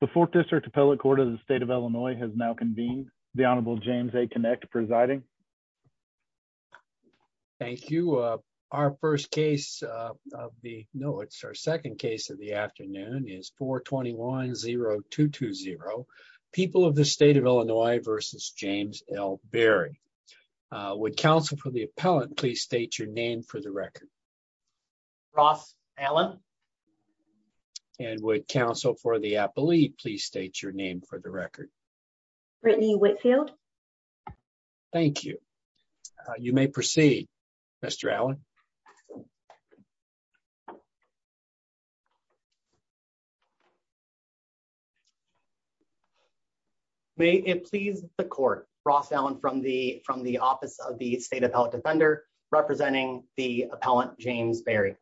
The fourth district appellate court of the state of Illinois has now convened the Honorable James a connect presiding. Thank you. Our first case of the know it's our second case of the afternoon is for 210220 people of the state of Illinois versus James L Barry would counsel for the appellate please state your name for the record. Ross Allen. And would counsel for the appellate please state your name for the record. Brittany Whitfield. Thank you. You may proceed. Mr Allen. Thank you. May it please the court brought down from the, from the office of the state of health defender, representing the appellant James Barry.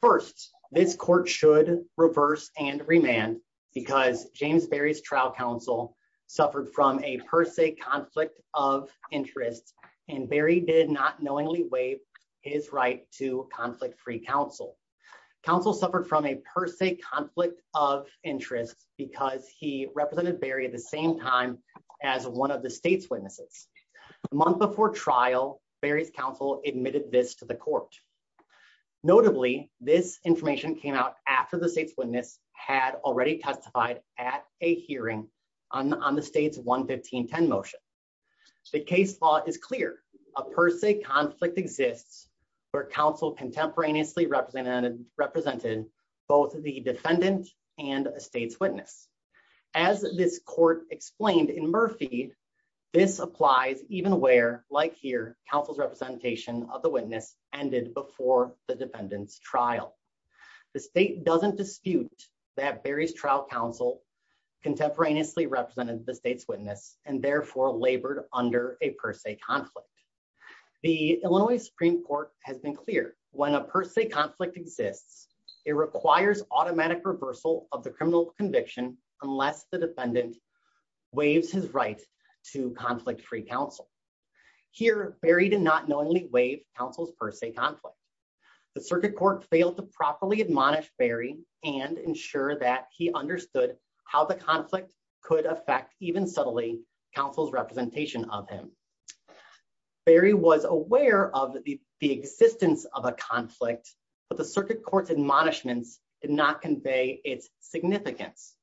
First, this court should reverse and remand because James Barry's trial counsel suffered from a per se conflict of interest, and Barry did not knowingly waive his right to conflict free counsel counsel suffered from a per se conflict of interest, because he represented Barry at the same time as one of the state's witnesses month before trial Barry's counsel admitted this to the court. Notably, this information came out after the state's witness had already testified at a hearing on the state's one 1510 motion. The case law is clear, a per se conflict exists for counsel contemporaneously represented represented both the defendant and a state's witness. As this court explained in Murphy. Indeed, this applies, even where, like here, councils representation of the witness ended before the defendants trial. The state doesn't dispute that Barry's trial counsel contemporaneously represented the state's witness, and therefore labored under a per se conflict. The Illinois Supreme Court has been clear, when a per se conflict exists, it requires automatic reversal of the criminal conviction, unless the defendant waves his right to conflict free counsel. Here, Barry did not knowingly waive counsel's per se conflict. The circuit court failed to properly admonish Barry, and ensure that he understood how the conflict could affect even subtly councils representation of him. Barry was aware of the existence of a conflict, but the circuit courts admonishments did not convey its significance.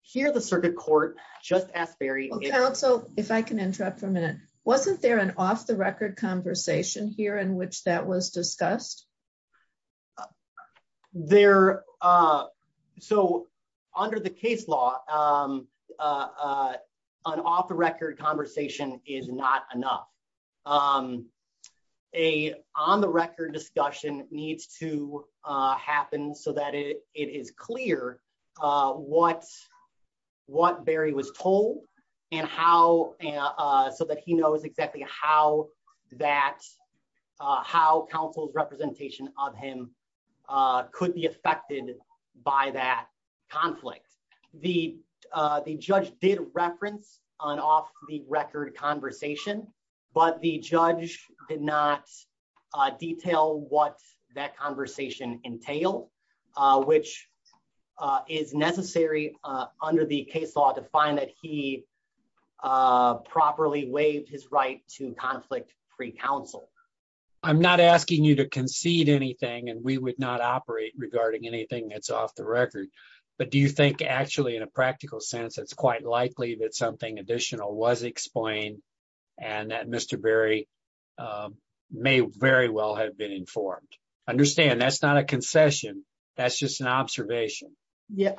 Here the circuit court, just ask Barry. So, if I can interrupt for a minute. Wasn't there an off the record conversation here in which that was discussed there. So, under the case law, an off the record conversation is not enough. A on the record discussion needs to happen so that it is clear what what Barry was told, and how, so that he knows exactly how that how counsel's representation of him could be affected by that conflict. The, the judge did reference on off the record conversation, but the judge did not detail what that conversation entail, which is necessary under the case law to find that he properly waived his right to conflict free counsel. I'm not asking you to concede anything and we would not operate regarding anything that's off the record. But do you think actually in a practical sense it's quite likely that something additional was explained, and that Mr. Barry may very well have been informed. Understand that's not a concession. That's just an observation. Yeah.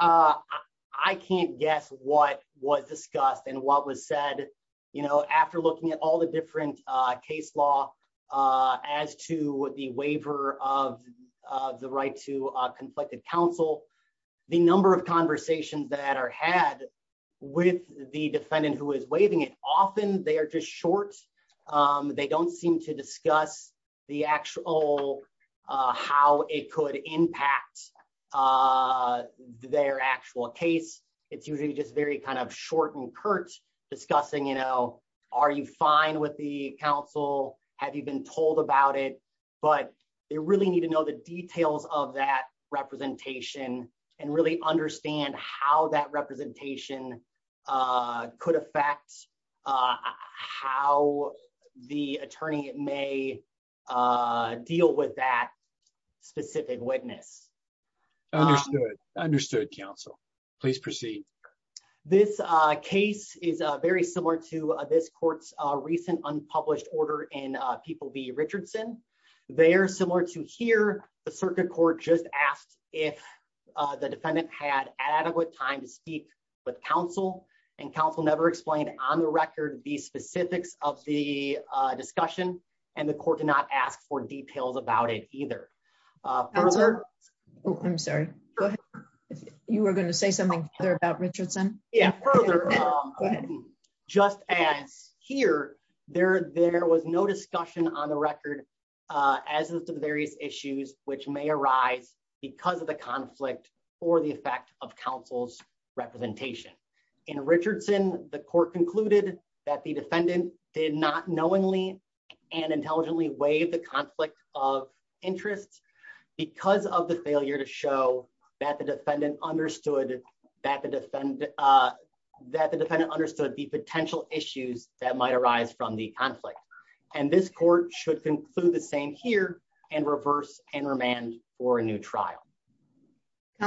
I can't guess what was discussed and what was said, you know, after looking at all the different case law. As to the waiver of the right to conflicted counsel. The number of conversations that are had with the defendant who is waving it often they are just short. They don't seem to discuss the actual how it could impact their actual case, it's usually just very kind of short and curt discussing you know, are you fine with the council, have you been told about it, but they really need to know the details of that So, the attorney may deal with that specific witness understood understood Council, please proceed. This case is very similar to this court's recent unpublished order and people be Richardson, they are similar to hear the circuit court just asked if the defendant had adequate time to speak with counsel and counsel never explained on the record the specifics of the discussion, and the court did not ask for details about it either. I'm sorry. You were going to say something about Richardson. Yeah. Just as here, there, there was no discussion on the record, as the various issues which may arise because of the conflict, or the effect of councils representation in Richardson, the court concluded that the defendant did not knowingly and intelligently waive the conflict of interest, because of the failure to show that the defendant understood that the defendant that the defendant understood the potential issues that might arise from the conflict, and this court should conclude the same here and reverse and remand or a new trial.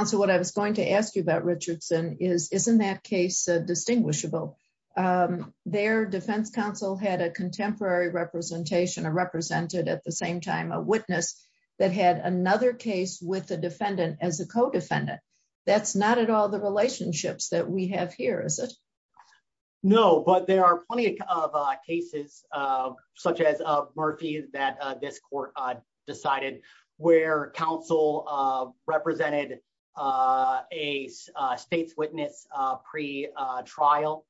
So what I was going to ask you about Richardson is isn't that case distinguishable. Their defense counsel had a contemporary representation of represented at the same time a witness that had another case with the defendant as a co defendant. That's not at all the relationships that we have here is it. No, but there are plenty of cases, such as Murphy, that this court decided where counsel represented a state's witness pre trial.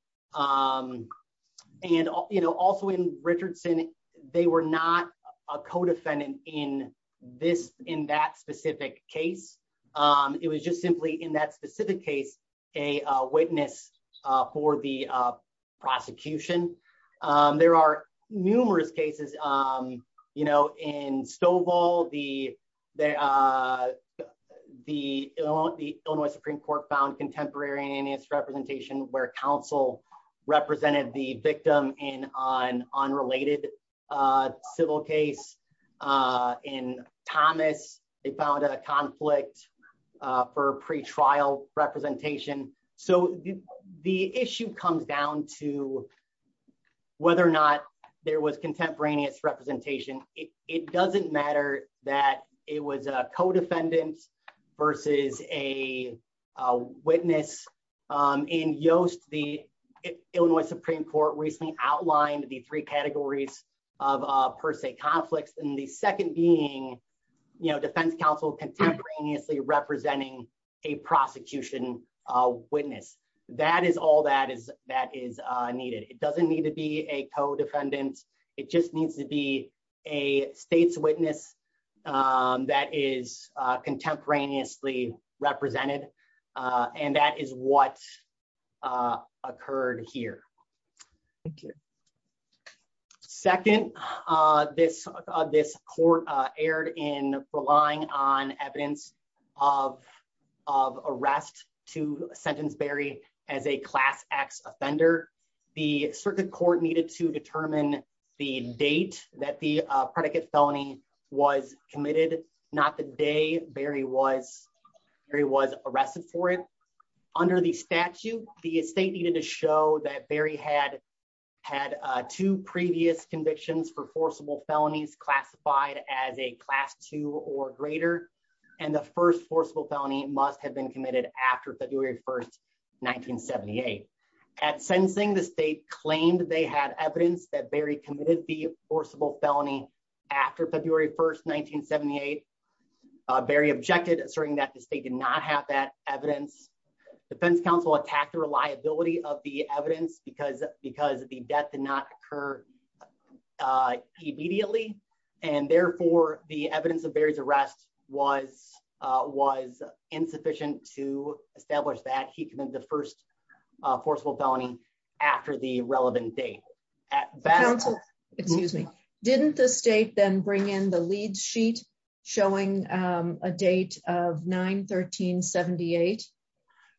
And, you know, also in Richardson, they were not a co defendant in this in that specific case, it was just simply in that specific case, a witness for the prosecution. There are numerous cases, you know, in stove all the, the, the, the Supreme Court found contemporary and his representation where counsel represented the victim in on on related civil case in Thomas, they found a conflict for pre trial representation. So, the issue comes down to whether or not there was contemporaneous representation, it doesn't matter that it was a co defendants, versus a witness in Yoast the Illinois Supreme Court recently outlined the three categories of per se conflicts and the That is all that is that is needed, it doesn't need to be a co defendants, it just needs to be a state's witness. That is contemporaneously represented. And that is what occurred here. Thank you. Second, this, this court aired in relying on evidence of of arrest to sentence Barry, as a class x offender. The circuit court needed to determine the date that the predicate felony was committed, not the day, Barry was very was arrested for it. Under the statute, the state needed to show that Barry had had two previous convictions for forcible felonies classified as a class two or greater. And the first forcible felony must have been committed after February 1 1978 at sensing the state claimed they had evidence that Barry committed the forcible felony. After February 1 1978 Barry objected, asserting that the state did not have that evidence defense counsel attacked the reliability of the evidence because because the death did not occur. Immediately, and therefore, the evidence of Barry's arrest was was insufficient to establish that he committed the first forcible felony after the relevant date. At best, excuse me, didn't the state then bring in the lead sheet, showing a date of 913 78.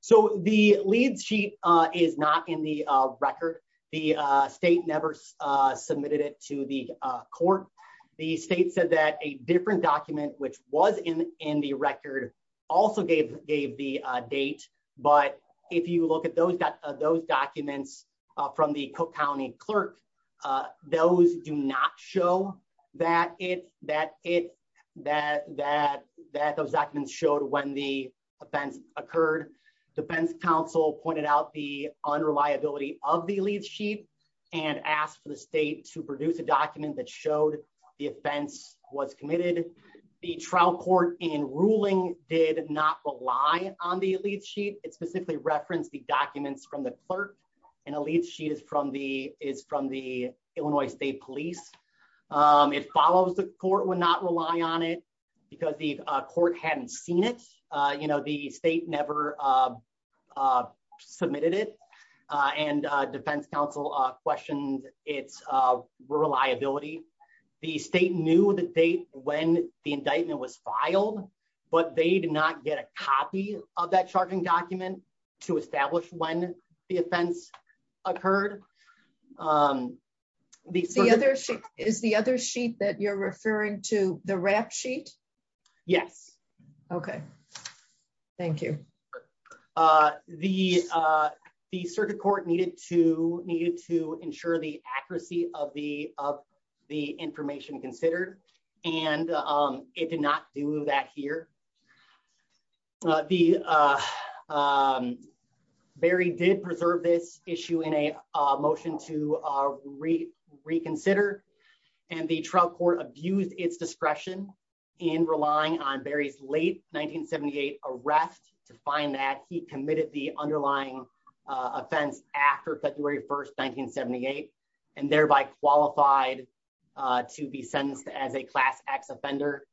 So the lead sheet is not in the record. The state never submitted it to the court. The state said that a different document which was in in the record also gave gave the date. But if you look at those that those documents from the Cook County clerk. Those do not show that it that it that that that those documents showed when the offense occurred. Defense counsel pointed out the unreliability of the lead sheet and asked for the state to produce a document that showed the offense was committed. The trial court in ruling did not rely on the lead sheet, it specifically referenced the documents from the clerk and a lead sheet is from the is from the Illinois State Police. It follows the court would not rely on it because the court hadn't seen it, you know, the state never submitted it and defense counsel questions, it's reliability. The state knew the date when the indictment was filed, but they did not get a copy of that charging document to establish when the offense occurred. The other sheet is the other sheet that you're referring to the rap sheet. Yes. Okay. Thank you. The, the circuit court needed to needed to ensure the accuracy of the, of the information considered, and it did not do that here. The very did preserve this issue in a motion to read reconsider, and the trial court abused its discretion in relying on Barry's late 1978 arrest to find that he committed the underlying offense after February 1 1978, and thereby qualified to be sentenced as a class x offender.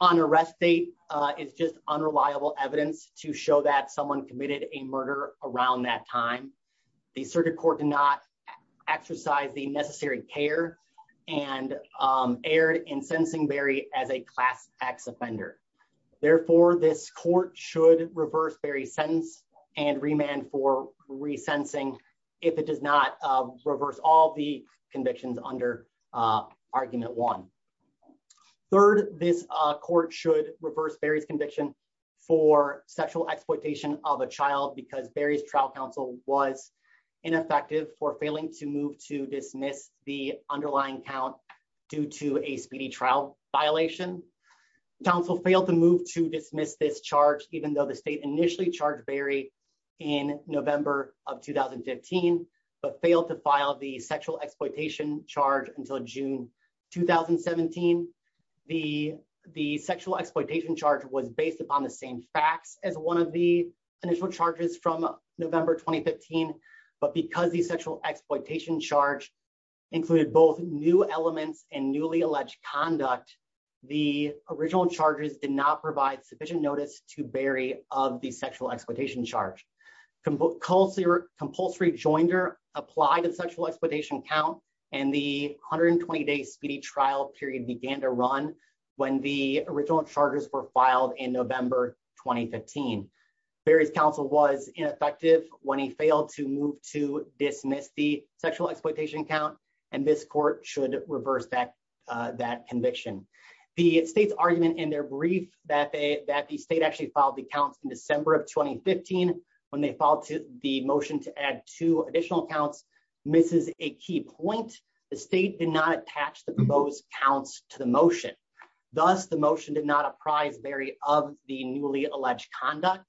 On arrest date is just unreliable evidence to show that someone committed a murder around that time. The circuit court did not exercise the necessary care and aired in sensing Barry as a class x offender. Therefore, this court should reverse Barry sentence and remand for resensing. If it does not reverse all the convictions under argument one. Third, this court should reverse Barry's conviction for sexual exploitation of a child because Barry's trial counsel was ineffective for failing to move to dismiss the underlying count. Due to a speedy trial violation council failed to move to dismiss this charge, even though the state initially charged Barry in November of 2015, but failed to file the sexual exploitation charge until June, 2017. The, the sexual exploitation charge was based upon the same facts as one of the initial charges from November 2015, but because the sexual exploitation charge included both new elements and newly alleged conduct. The original charges did not provide sufficient notice to Barry of the sexual exploitation charge compulsory compulsory joinder applied and sexual exploitation count, and the hundred and 20 days speedy trial period began to run. When the original charges were filed in November, 2015, Barry's counsel was ineffective when he failed to move to dismiss the sexual exploitation count, and this court should reverse that that conviction, the state's argument in their brief that they that the state actually filed the counts in December of 2015, when they fall to the motion to add two additional accounts, Mrs. A key point, the state did not attach the most counts to the motion. Thus, the motion did not apprise Barry of the newly alleged conduct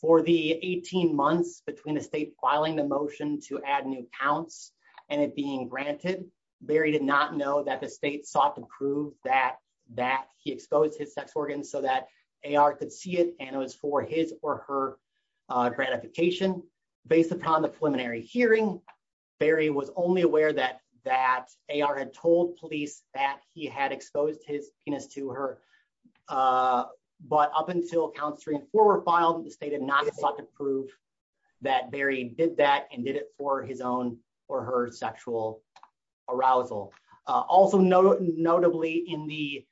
for the 18 months between the state filing the motion to add new counts, and it being granted Barry did not know that the state sought to prove that that he exposed his sex organ so that AR could see it, and it was for his or her gratification based upon the preliminary hearing Barry was only aware that that AR had told police that he had exposed his penis to her. But up until counts three and four were filed, the state had not sought to prove that Barry did that and did it for his own or her sexual arousal. Also note, notably in the,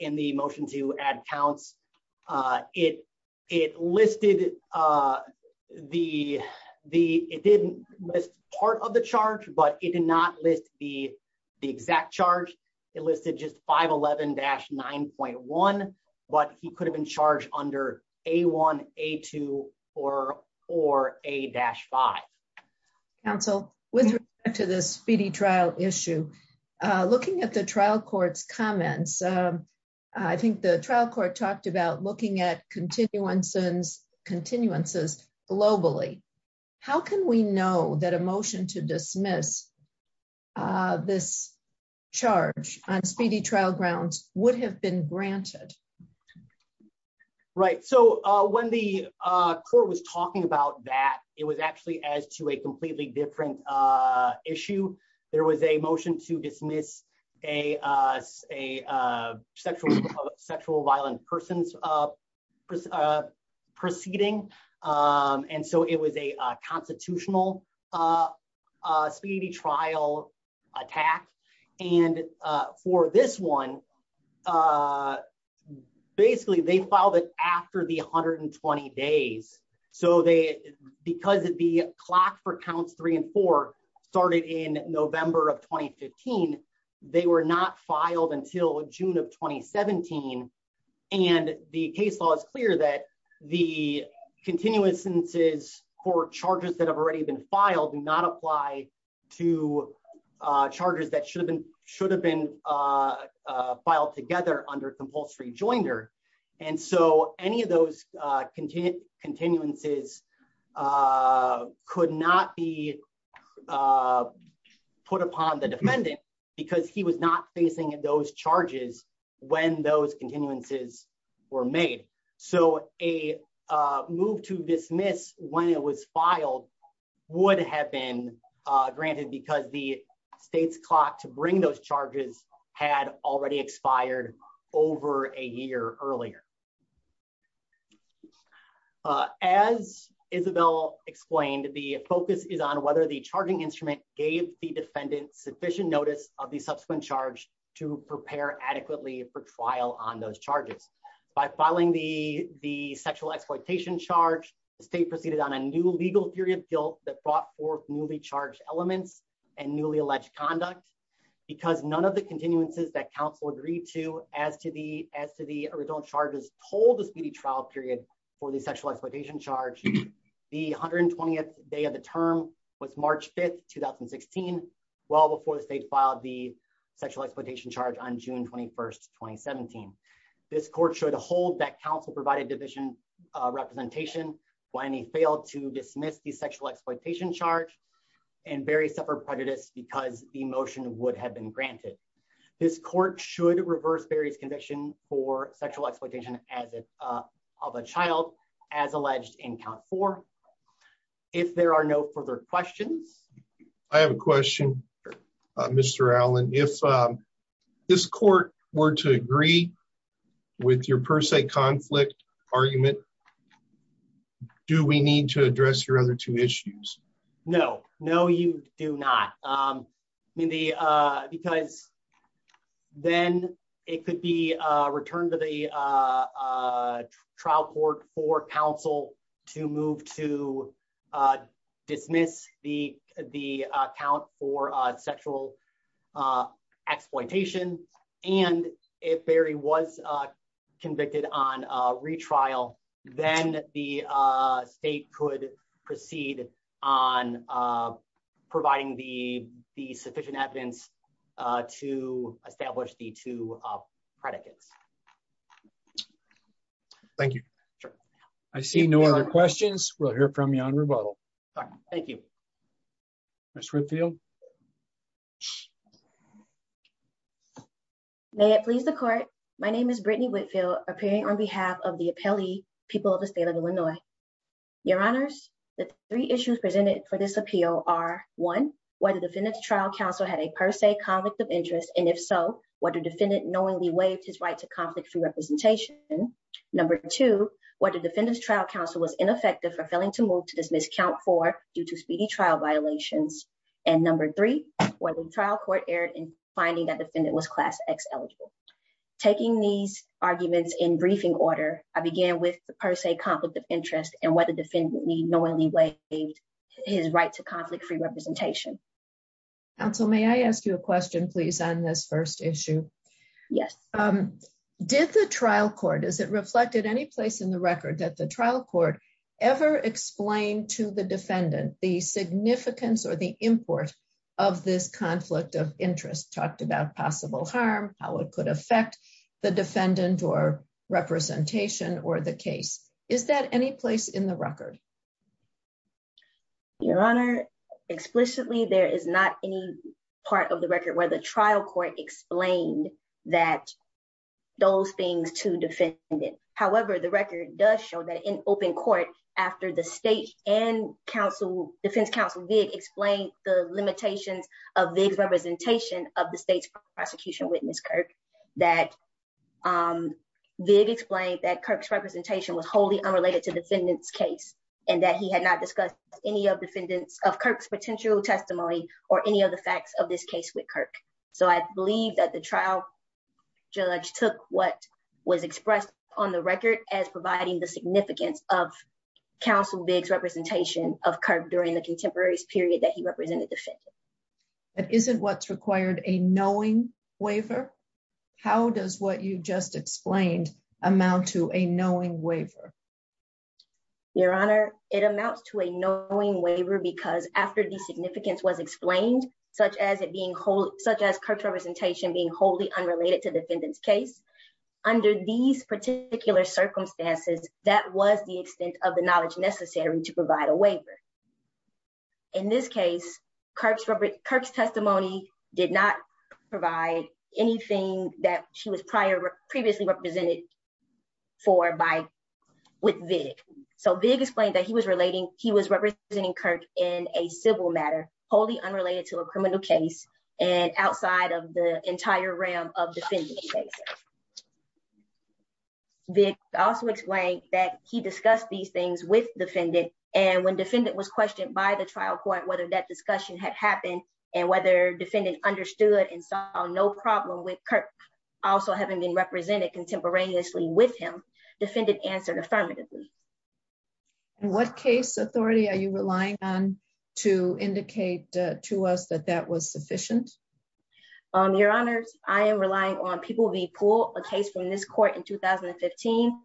in the motion to add counts. It, it listed the, the, it didn't list part of the charge but it did not list the exact charge it listed just 511 dash 9.1, but he could have been charged under a one, a two, or, or a dash five. So, with respect to this speedy trial issue, looking at the trial courts comments. I think the trial court talked about looking at continued one sins continuances globally. How can we know that emotion to dismiss this charge on speedy trial grounds would have been granted. Right. So, when the court was talking about that it was actually as to a completely different issue. There was a motion to dismiss a, a sexual sexual violent persons of proceeding. And so it was a constitutional speedy trial attack. And for this one, basically they filed it after the 120 days, so they because it'd be clocked for counts three and four started in November of 2015. They were not filed until June of 2017, and the case law is clear that the continuous instances court charges that have already been filed and not apply to charges that should have been should have been filed together under compulsory joiner. And so, any of those continue continuances could not be put upon the defendant, because he was not facing those charges. When those continuances were made. So, a move to dismiss when it was filed would have been granted because the state's clock to bring those charges had already expired over a year earlier. As Isabel explained the focus is on whether the charging instrument gave the defendant sufficient notice of the subsequent charge to prepare adequately for trial on those charges by filing the, the sexual exploitation charge state proceeded on a new legal theory of guilt that brought forth newly charged elements and newly alleged conduct, because none of the continuances that Council agreed to, as to the, as to the original charges told the speedy trial period for the sexual exploitation charge. The 120th day of the term was March 5 2016, well before the state filed the sexual exploitation charge on June 21 2017. This court should hold that Council provided division representation, when he failed to dismiss the sexual exploitation charge and very separate prejudice because the motion would have been granted. This court should reverse various conviction for sexual exploitation, as it of a child, as alleged in count for. If there are no further questions. I have a question. Mr. Allen, if this court were to agree with your per se conflict argument. Do we need to address your other two issues. No, no, you do not. The, because then it could be returned to the trial court for Council to move to dismiss the, the account for sexual exploitation. And if Barry was convicted on retrial, then the state could proceed on providing the sufficient evidence to establish the two predicates. Thank you. I see no other questions we'll hear from you on rebuttal. Thank you. Let's reveal. May it please the court. My name is Brittany Whitfield appearing on behalf of the appellee, people of the state of Illinois. Your Honors, the three issues presented for this appeal are one, whether defendants trial Council had a per se conflict of interest and if so, what a defendant knowingly waived his right to conflict free representation. Number two, what the defendants trial Council was ineffective for failing to move to dismiss count for due to speedy trial violations, and number three, or the trial court error in finding that defendant was class x eligible. Taking these arguments in briefing order, I began with the per se conflict of interest and what the defendant need knowingly waived his right to conflict free representation. Also may I ask you a question please on this first issue. Yes. Did the trial court is it reflected any place in the record that the trial court ever explained to the defendant, the significance or the import of this conflict of interest talked about possible harm, how it could affect the defendant or representation or the case. Is that any place in the record. Your Honor, explicitly there is not any part of the record where the trial court explained that those things to defend it. However, the record does show that in open court. After the state and counsel defense counsel did explain the limitations of the representation of the state's prosecution witness Kirk that big explained that Kirk's representation was wholly unrelated to defendants case, and that he had not discussed any of defendants of Kirk's potential testimony, or any of the facts of this case with Kirk, so I believe that the trial judge took what was expressed on the record as providing the significance of counsel bigs representation of curve during the contemporaries period that he represented the fit. But isn't what's required a knowing waiver. How does what you just explained amount to a knowing waiver. Your Honor, it amounts to a knowing waiver because after the significance was explained, such as it being whole, such as Kirk's representation being wholly unrelated to defendants case. Under these particular circumstances, that was the extent of the knowledge necessary to provide a waiver. In this case, Kirk's Kirk's testimony did not provide anything that she was prior previously represented for by with big. So big explained that he was relating, he was representing Kirk in a civil matter, wholly unrelated to a criminal case, and outside of the entire realm of the big also explained that he discussed these things with defendant, and when defendant was questioned by the trial court whether that discussion had happened, and whether defendant understood and saw no problem with Kirk. Also having been represented contemporaneously with him defended answered affirmatively. What case authority are you relying on to indicate to us that that was sufficient. Your Honors, I am relying on people the pool, a case from this court in 2015,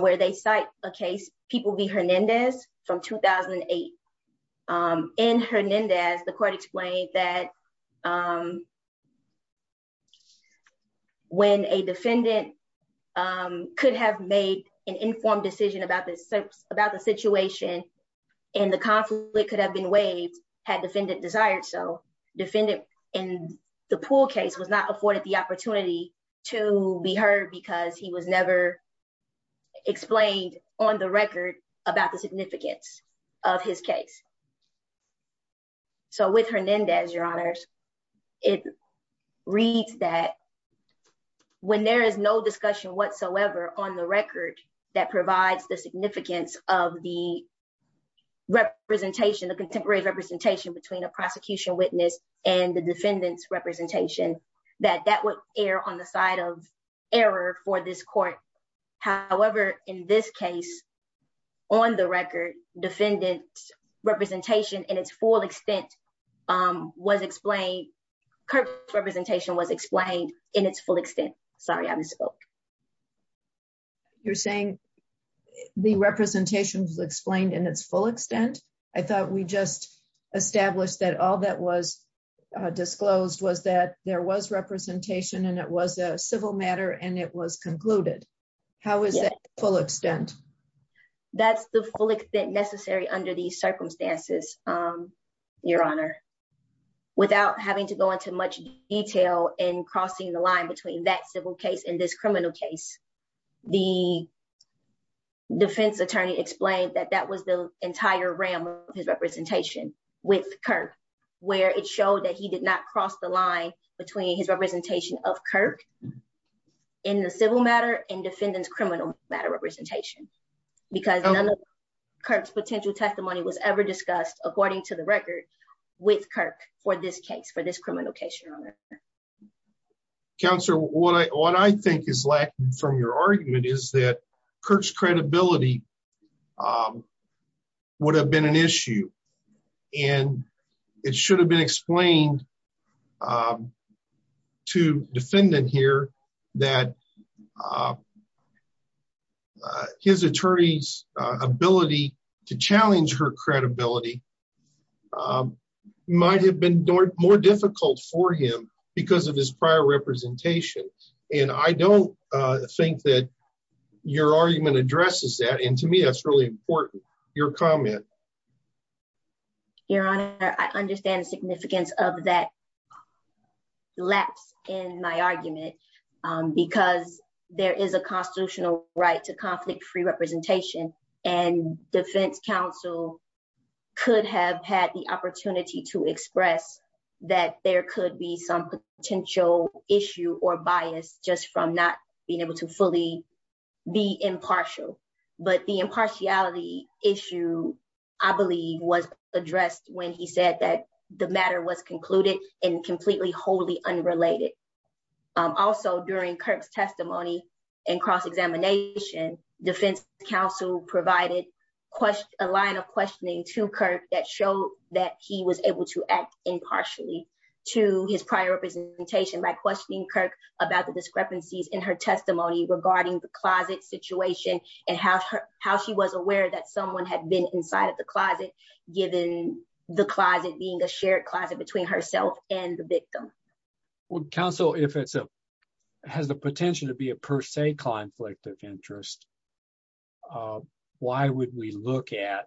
where they cite a case, people be Hernandez from 2008 in Hernandez the court explained that when a defendant could have made an informed decision about this about the situation, and the conflict could have been waived had defendant desired so defendant in the pool case was not afforded the opportunity to be heard because he was never explained on the record about the significance of his case. So with Hernandez, Your Honors, it reads that when there is no discussion whatsoever on the record that provides the significance of the representation of contemporary representation between a prosecution witness and the defendants representation that that would be considered on the side of error for this court. However, in this case, on the record, defendants representation and its full extent was explained representation was explained in its full extent. Sorry I misspoke. You're saying the representation was explained in its full extent. I thought we just established that all that was disclosed was that there was representation and it was a civil matter and it was concluded. How is it full extent. That's the full extent necessary under these circumstances, Your Honor, without having to go into much detail and crossing the line between that civil case in this criminal case, the defense attorney explained that that was the entire realm of his representation with Kirk, where it showed that he did not cross the line between his representation of Kirk in the civil matter and defendants criminal matter representation, because none of Kirk's potential testimony was ever discussed according to the record with Kirk for this case for this criminal case, Your Honor. Counsel, what I what I think is lacking from your argument is that Kirk's credibility would have been an issue. And it should have been explained to defendant here that his attorneys ability to challenge her credibility might have been more difficult for him because of his prior representations, and I don't think that your argument addresses that and to me that's really important. Your comment. Your Honor, I understand the significance of that lapse in my argument, because there is a constitutional right to conflict free representation and defense counsel could have had the opportunity to express that there could be some potential issue or bias, just from not being able to fully be impartial, but the impartiality issue. I believe was addressed when he said that the matter was concluded in completely wholly unrelated. Also during Kirk's testimony and cross examination defense counsel provided a line of questioning to Kirk that show that he was able to act impartially to his prior representation by questioning Kirk about the discrepancies in her testimony regarding the closet situation, and how, how she was aware that someone had been inside of the closet, given the closet being a shared closet between herself and the victim would counsel if it's a has the potential to be a per se conflict of interest. Why would we look at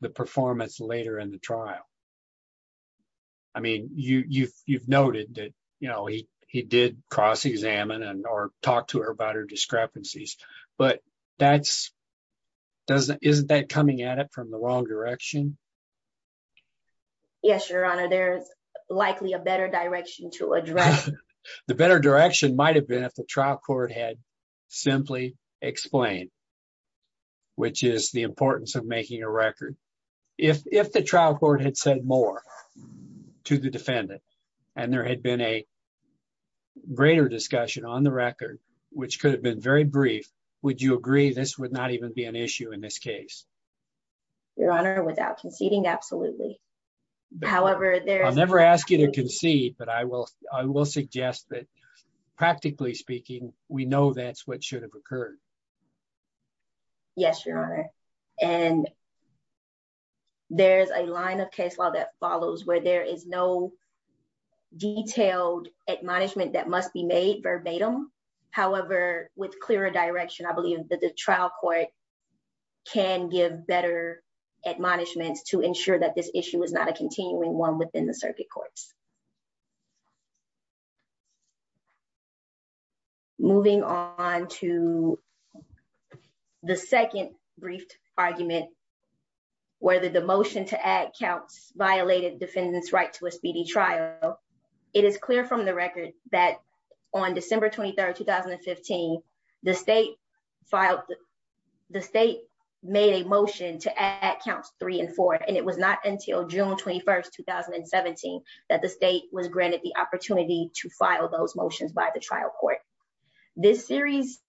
the performance later in the trial. I mean you you've you've noted that, you know, he, he did cross examine and or talk to her about her discrepancies, but that's doesn't isn't that coming at it from the wrong direction. Yes, Your Honor, there's likely a better direction to address the better direction might have been at the trial court had simply explained, which is the importance of making a record. If the trial court had said more to the defendant, and there had been a greater discussion on the record, which could have been very brief. Would you agree this would not even be an issue in this case. Your Honor without conceding absolutely. However, they're never asked you to concede but I will, I will suggest that, practically speaking, we know that's what should have occurred. Yes, Your Honor. And there's a line of case law that follows where there is no detailed admonishment that must be made verbatim. However, with clearer direction I believe that the trial court can give better admonishments to ensure that this issue is not a continuing one within the circuit courts. Moving on to the second brief argument, whether the motion to add counts violated defendants right to a speedy trial. It is clear from the record that on December 23 2015, the state filed the state made a motion to add counts three and four, and it was not until June 21 2017 that the state was granted the opportunity to file those motions by the trial court. This series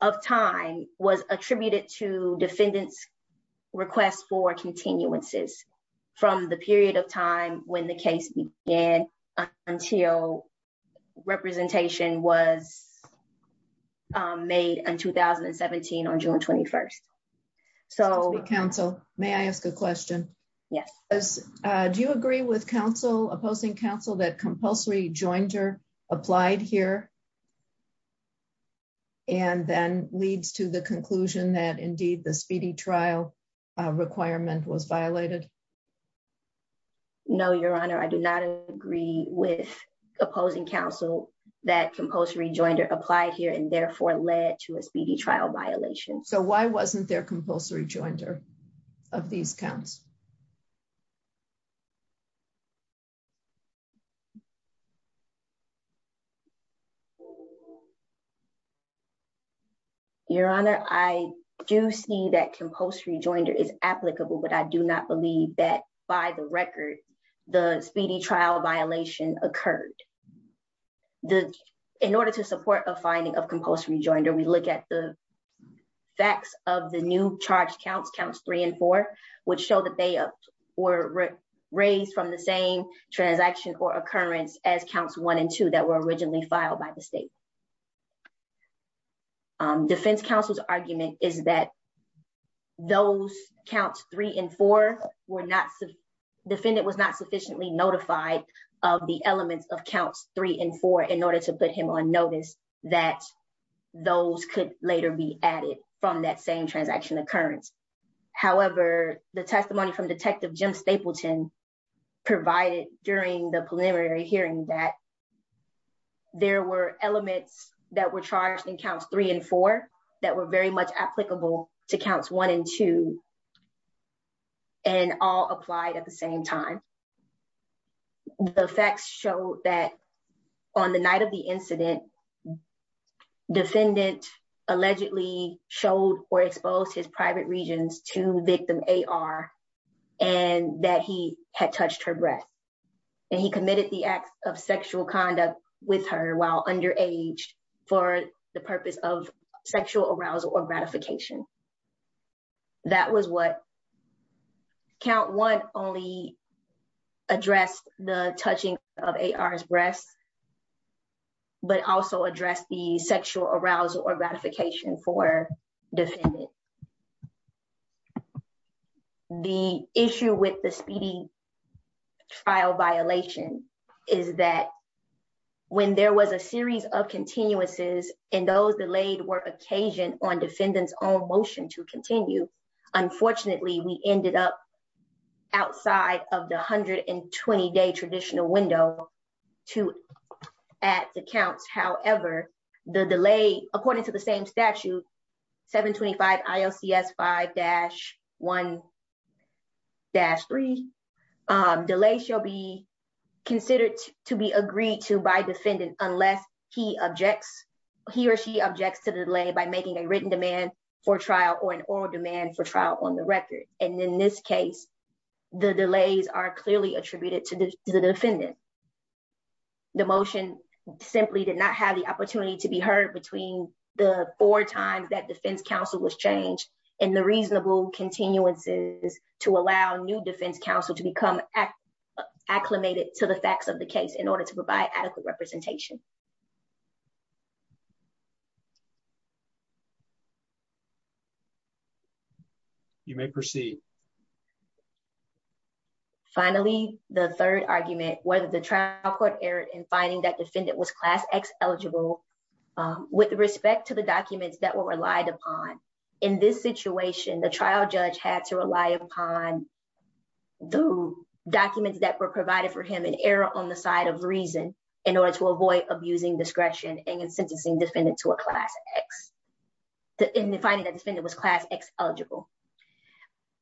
of time was attributed to defendants request for continuances from the period of time when the case began until representation was made in 2017 on June 21. So, counsel, may I ask a question. Yes. Do you agree with counsel opposing counsel that compulsory jointer applied here. And then leads to the conclusion that indeed the speedy trial requirement was violated. No, Your Honor, I do not agree with opposing counsel that compulsory jointer applied here and therefore led to a speedy trial violation. So why wasn't there compulsory jointer of these counts. Your Honor, I do see that compulsory jointer is applicable but I do not believe that, by the record, the speedy trial violation occurred. In order to support a finding of compulsory jointer we look at the facts of the new charge counts, counts three and four, which show that they were raised from the same transaction or occurrence as counts one and two that were originally filed by the state. Defense counsel's argument is that those counts three and four were not, defendant was not sufficiently notified of the elements of counts three and four in order to put him on notice that those could later be added from that same transaction occurrence. However, the testimony from Detective Jim Stapleton provided during the preliminary hearing that there were elements that were charged in counts three and four that were very much applicable to counts one and two, and all applied at the same time. The facts show that on the night of the incident, defendant allegedly showed or exposed his private regions to victim A.R. and that he had touched her breath, and he committed the act of sexual conduct with her while underage for the purpose of sexual arousal or ratification. That was what count one only addressed the touching of A.R.'s breast, but also addressed the sexual arousal or ratification for defendant. The issue with the speedy trial violation is that when there was a series of continuances and those delayed were occasioned on defendant's own motion to continue, unfortunately, we ended up outside of the 120-day traditional window to add the counts. However, the delay, according to the same statute, 725 ILCS 5-1-3, delay shall be considered to be agreed to by defendant unless he or she objects to the delay by making a written demand for trial or an oral demand for trial on the record. And in this case, the delays are clearly attributed to the defendant. The motion simply did not have the opportunity to be heard between the four times that defense counsel was changed and the reasonable continuances to allow new defense counsel to become acclimated to the facts of the case in order to provide adequate representation. You may proceed. Finally, the third argument, whether the trial court error in finding that defendant was class X eligible with respect to the documents that were relied upon. In this situation, the trial judge had to rely upon the documents that were provided for him in error on the side of reason in order to avoid abusing discretion and sentencing defendant to a class X. In finding that defendant was class X eligible.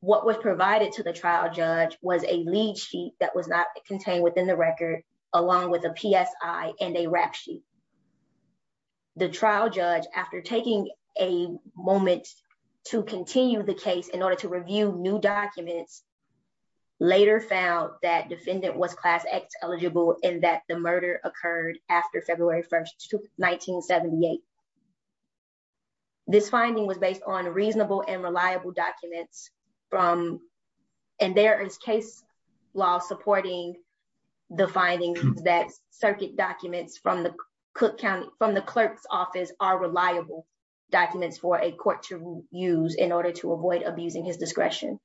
What was provided to the trial judge was a lead sheet that was not contained within the record, along with a PSI and a rap sheet. The trial judge, after taking a moment to continue the case in order to review new documents, later found that defendant was class X eligible and that the murder occurred after February 1st, 1978. This finding was based on reasonable and reliable documents. And there is case law supporting the findings that circuit documents from the clerk's office are reliable documents for a court to use in order to avoid abusing his discretion.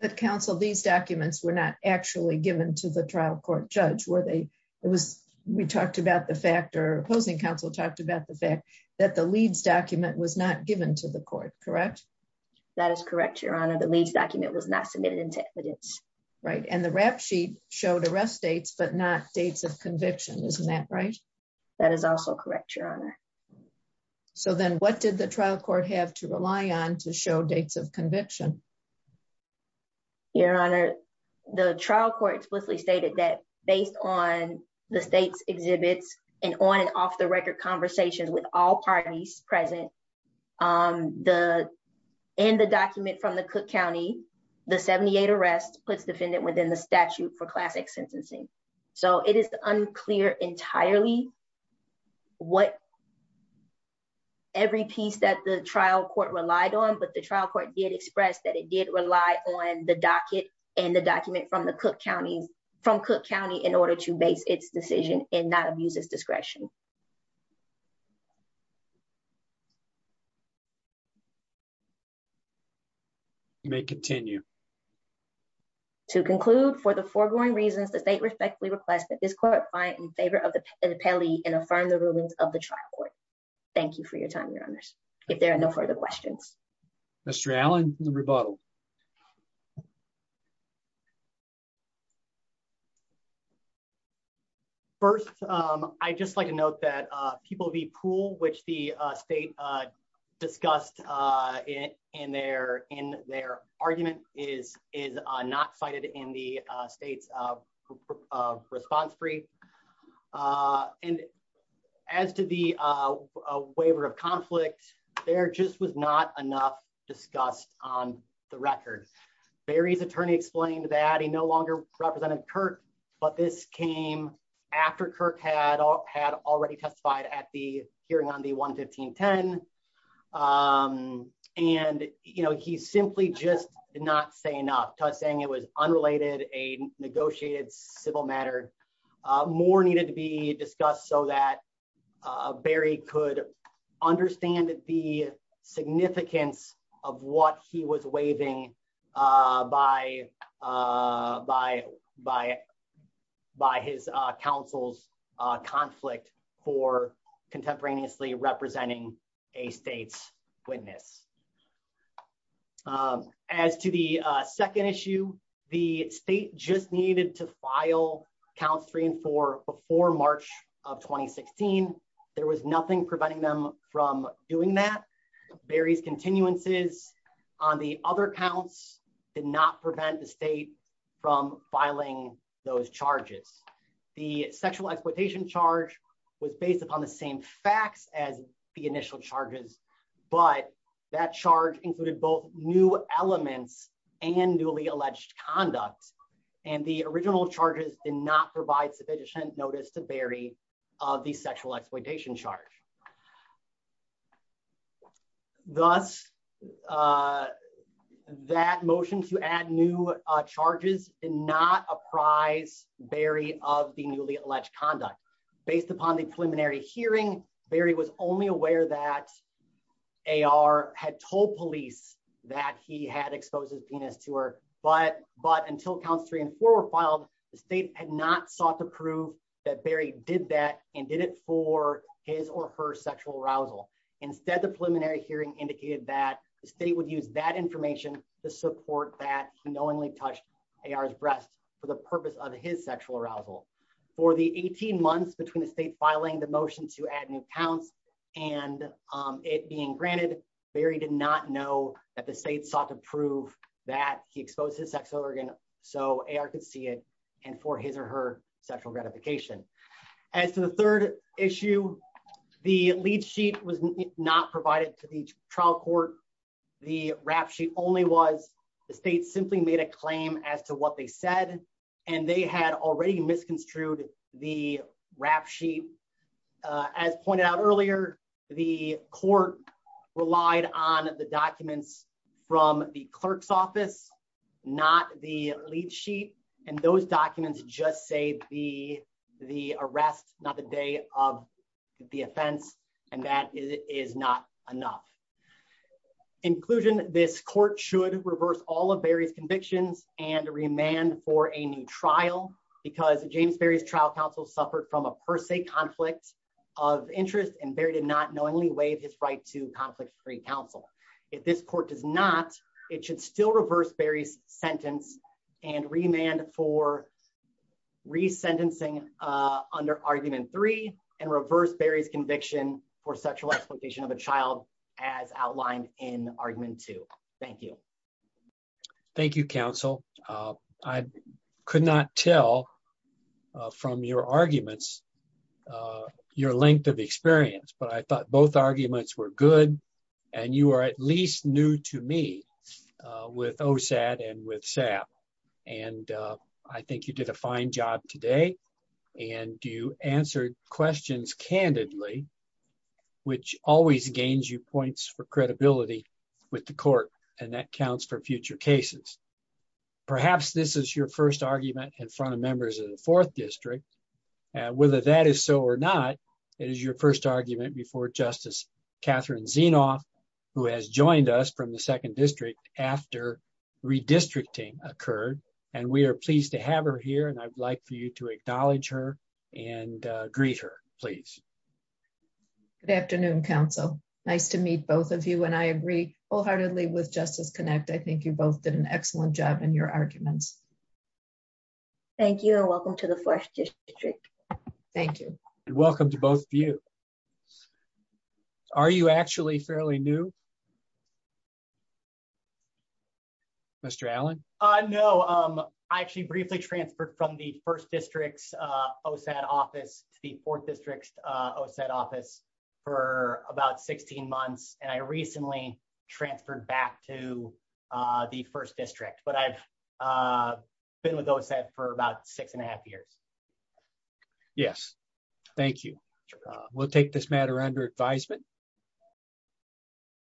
But counsel, these documents were not actually given to the trial court judge where they, it was, we talked about the fact or opposing counsel talked about the fact that the leads document was not given to the court, correct. That is correct, Your Honor, the leads document was not submitted into evidence. Right. And the rap sheet showed arrest dates, but not dates of conviction. Isn't that right? That is also correct, Your Honor. So then what did the trial court have to rely on to show dates of conviction? Your Honor, the trial court explicitly stated that based on the state's exhibits and on and off the record conversations with all parties present, the, in the document from the Cook County, the 78 arrests puts defendant within the statute for classic sentencing. So it is unclear entirely what every piece that the trial court relied on, but the trial court did express that it did rely on the docket and the document from the Cook County, from Cook County in order to base its decision and not abuse his discretion. You may continue. To conclude for the foregoing reasons, the state respectfully request that this court find in favor of the penalty and affirm the rulings of the trial court. Thank you for your time, Your Honors. If there are no further questions. Mr. Allen, the rebuttal. First, I just like to note that People v. Poole, which the state discussed in their argument, is not cited in the state's response brief. And as to the waiver of conflict, there just was not enough discussed on the record. Barry's attorney explained that he no longer represented Kirk, but this came after Kirk had already testified at the hearing on the 1-1510. And, you know, he simply just did not say enough, saying it was unrelated, a negotiated civil matter. More needed to be discussed so that Barry could understand the significance of what he was waiving by his counsel's conflict for contemporaneously representing a state's witness. As to the second issue, the state just needed to file counts three and four before March of 2016. There was nothing preventing them from doing that. Barry's continuances on the other counts did not prevent the state from filing those charges. The sexual exploitation charge was based upon the same facts as the initial charges, but that charge included both new elements and newly alleged conduct. And the original charges did not provide sufficient notice to Barry of the sexual exploitation charge. Thus, that motion to add new charges did not apprise Barry of the newly alleged conduct. Based upon the preliminary hearing, Barry was only aware that A.R. had told police that he had exposed his penis to her. But until counts three and four were filed, the state had not sought to prove that Barry did that and did it for his or her sexual arousal. Instead, the preliminary hearing indicated that the state would use that information to support that he knowingly touched A.R.'s breast for the purpose of his sexual arousal. For the 18 months between the state filing the motion to add new counts and it being granted, Barry did not know that the state sought to prove that he exposed his sex organ so A.R. could see it and for his or her sexual gratification. As to the third issue, the lead sheet was not provided to the trial court. The rap sheet only was the state simply made a claim as to what they said and they had already misconstrued the rap sheet. As pointed out earlier, the court relied on the documents from the clerk's office, not the lead sheet, and those documents just say the arrest, not the day of the offense, and that is not enough. In conclusion, this court should reverse all of Barry's convictions and remand for a new trial because James Barry's trial counsel suffered from a per se conflict of interest and Barry did not knowingly waive his right to conflict-free counsel. If this court does not, it should still reverse Barry's sentence and remand for resentencing under argument three and reverse Barry's conviction for sexual exploitation of a child as outlined in argument two. Thank you. Thank you, counsel. I could not tell from your arguments your length of experience, but I thought both arguments were good and you are at least new to me with OSAD and with SAP. I think you did a fine job today and you answered questions candidly, which always gains you points for credibility with the court and that counts for future cases. Perhaps this is your first argument in front of members of the 4th District. Whether that is so or not, it is your first argument before Justice Catherine Zinoff, who has joined us from the 2nd District after redistricting occurred, and we are pleased to have her here and I would like for you to acknowledge her and greet her, please. Good afternoon, counsel. Nice to meet both of you and I agree wholeheartedly with Justice Connect. I think you both did an excellent job in your arguments. Thank you and welcome to the 4th District. Thank you. Welcome to both of you. Are you actually fairly new? Mr. Allen? No, I actually briefly transferred from the 1st District's OSAD office to the 4th District's OSAD office for about 16 months and I recently transferred back to the 1st District, but I've been with OSAD for about six and a half years. Yes, thank you. We'll take this matter under advisement.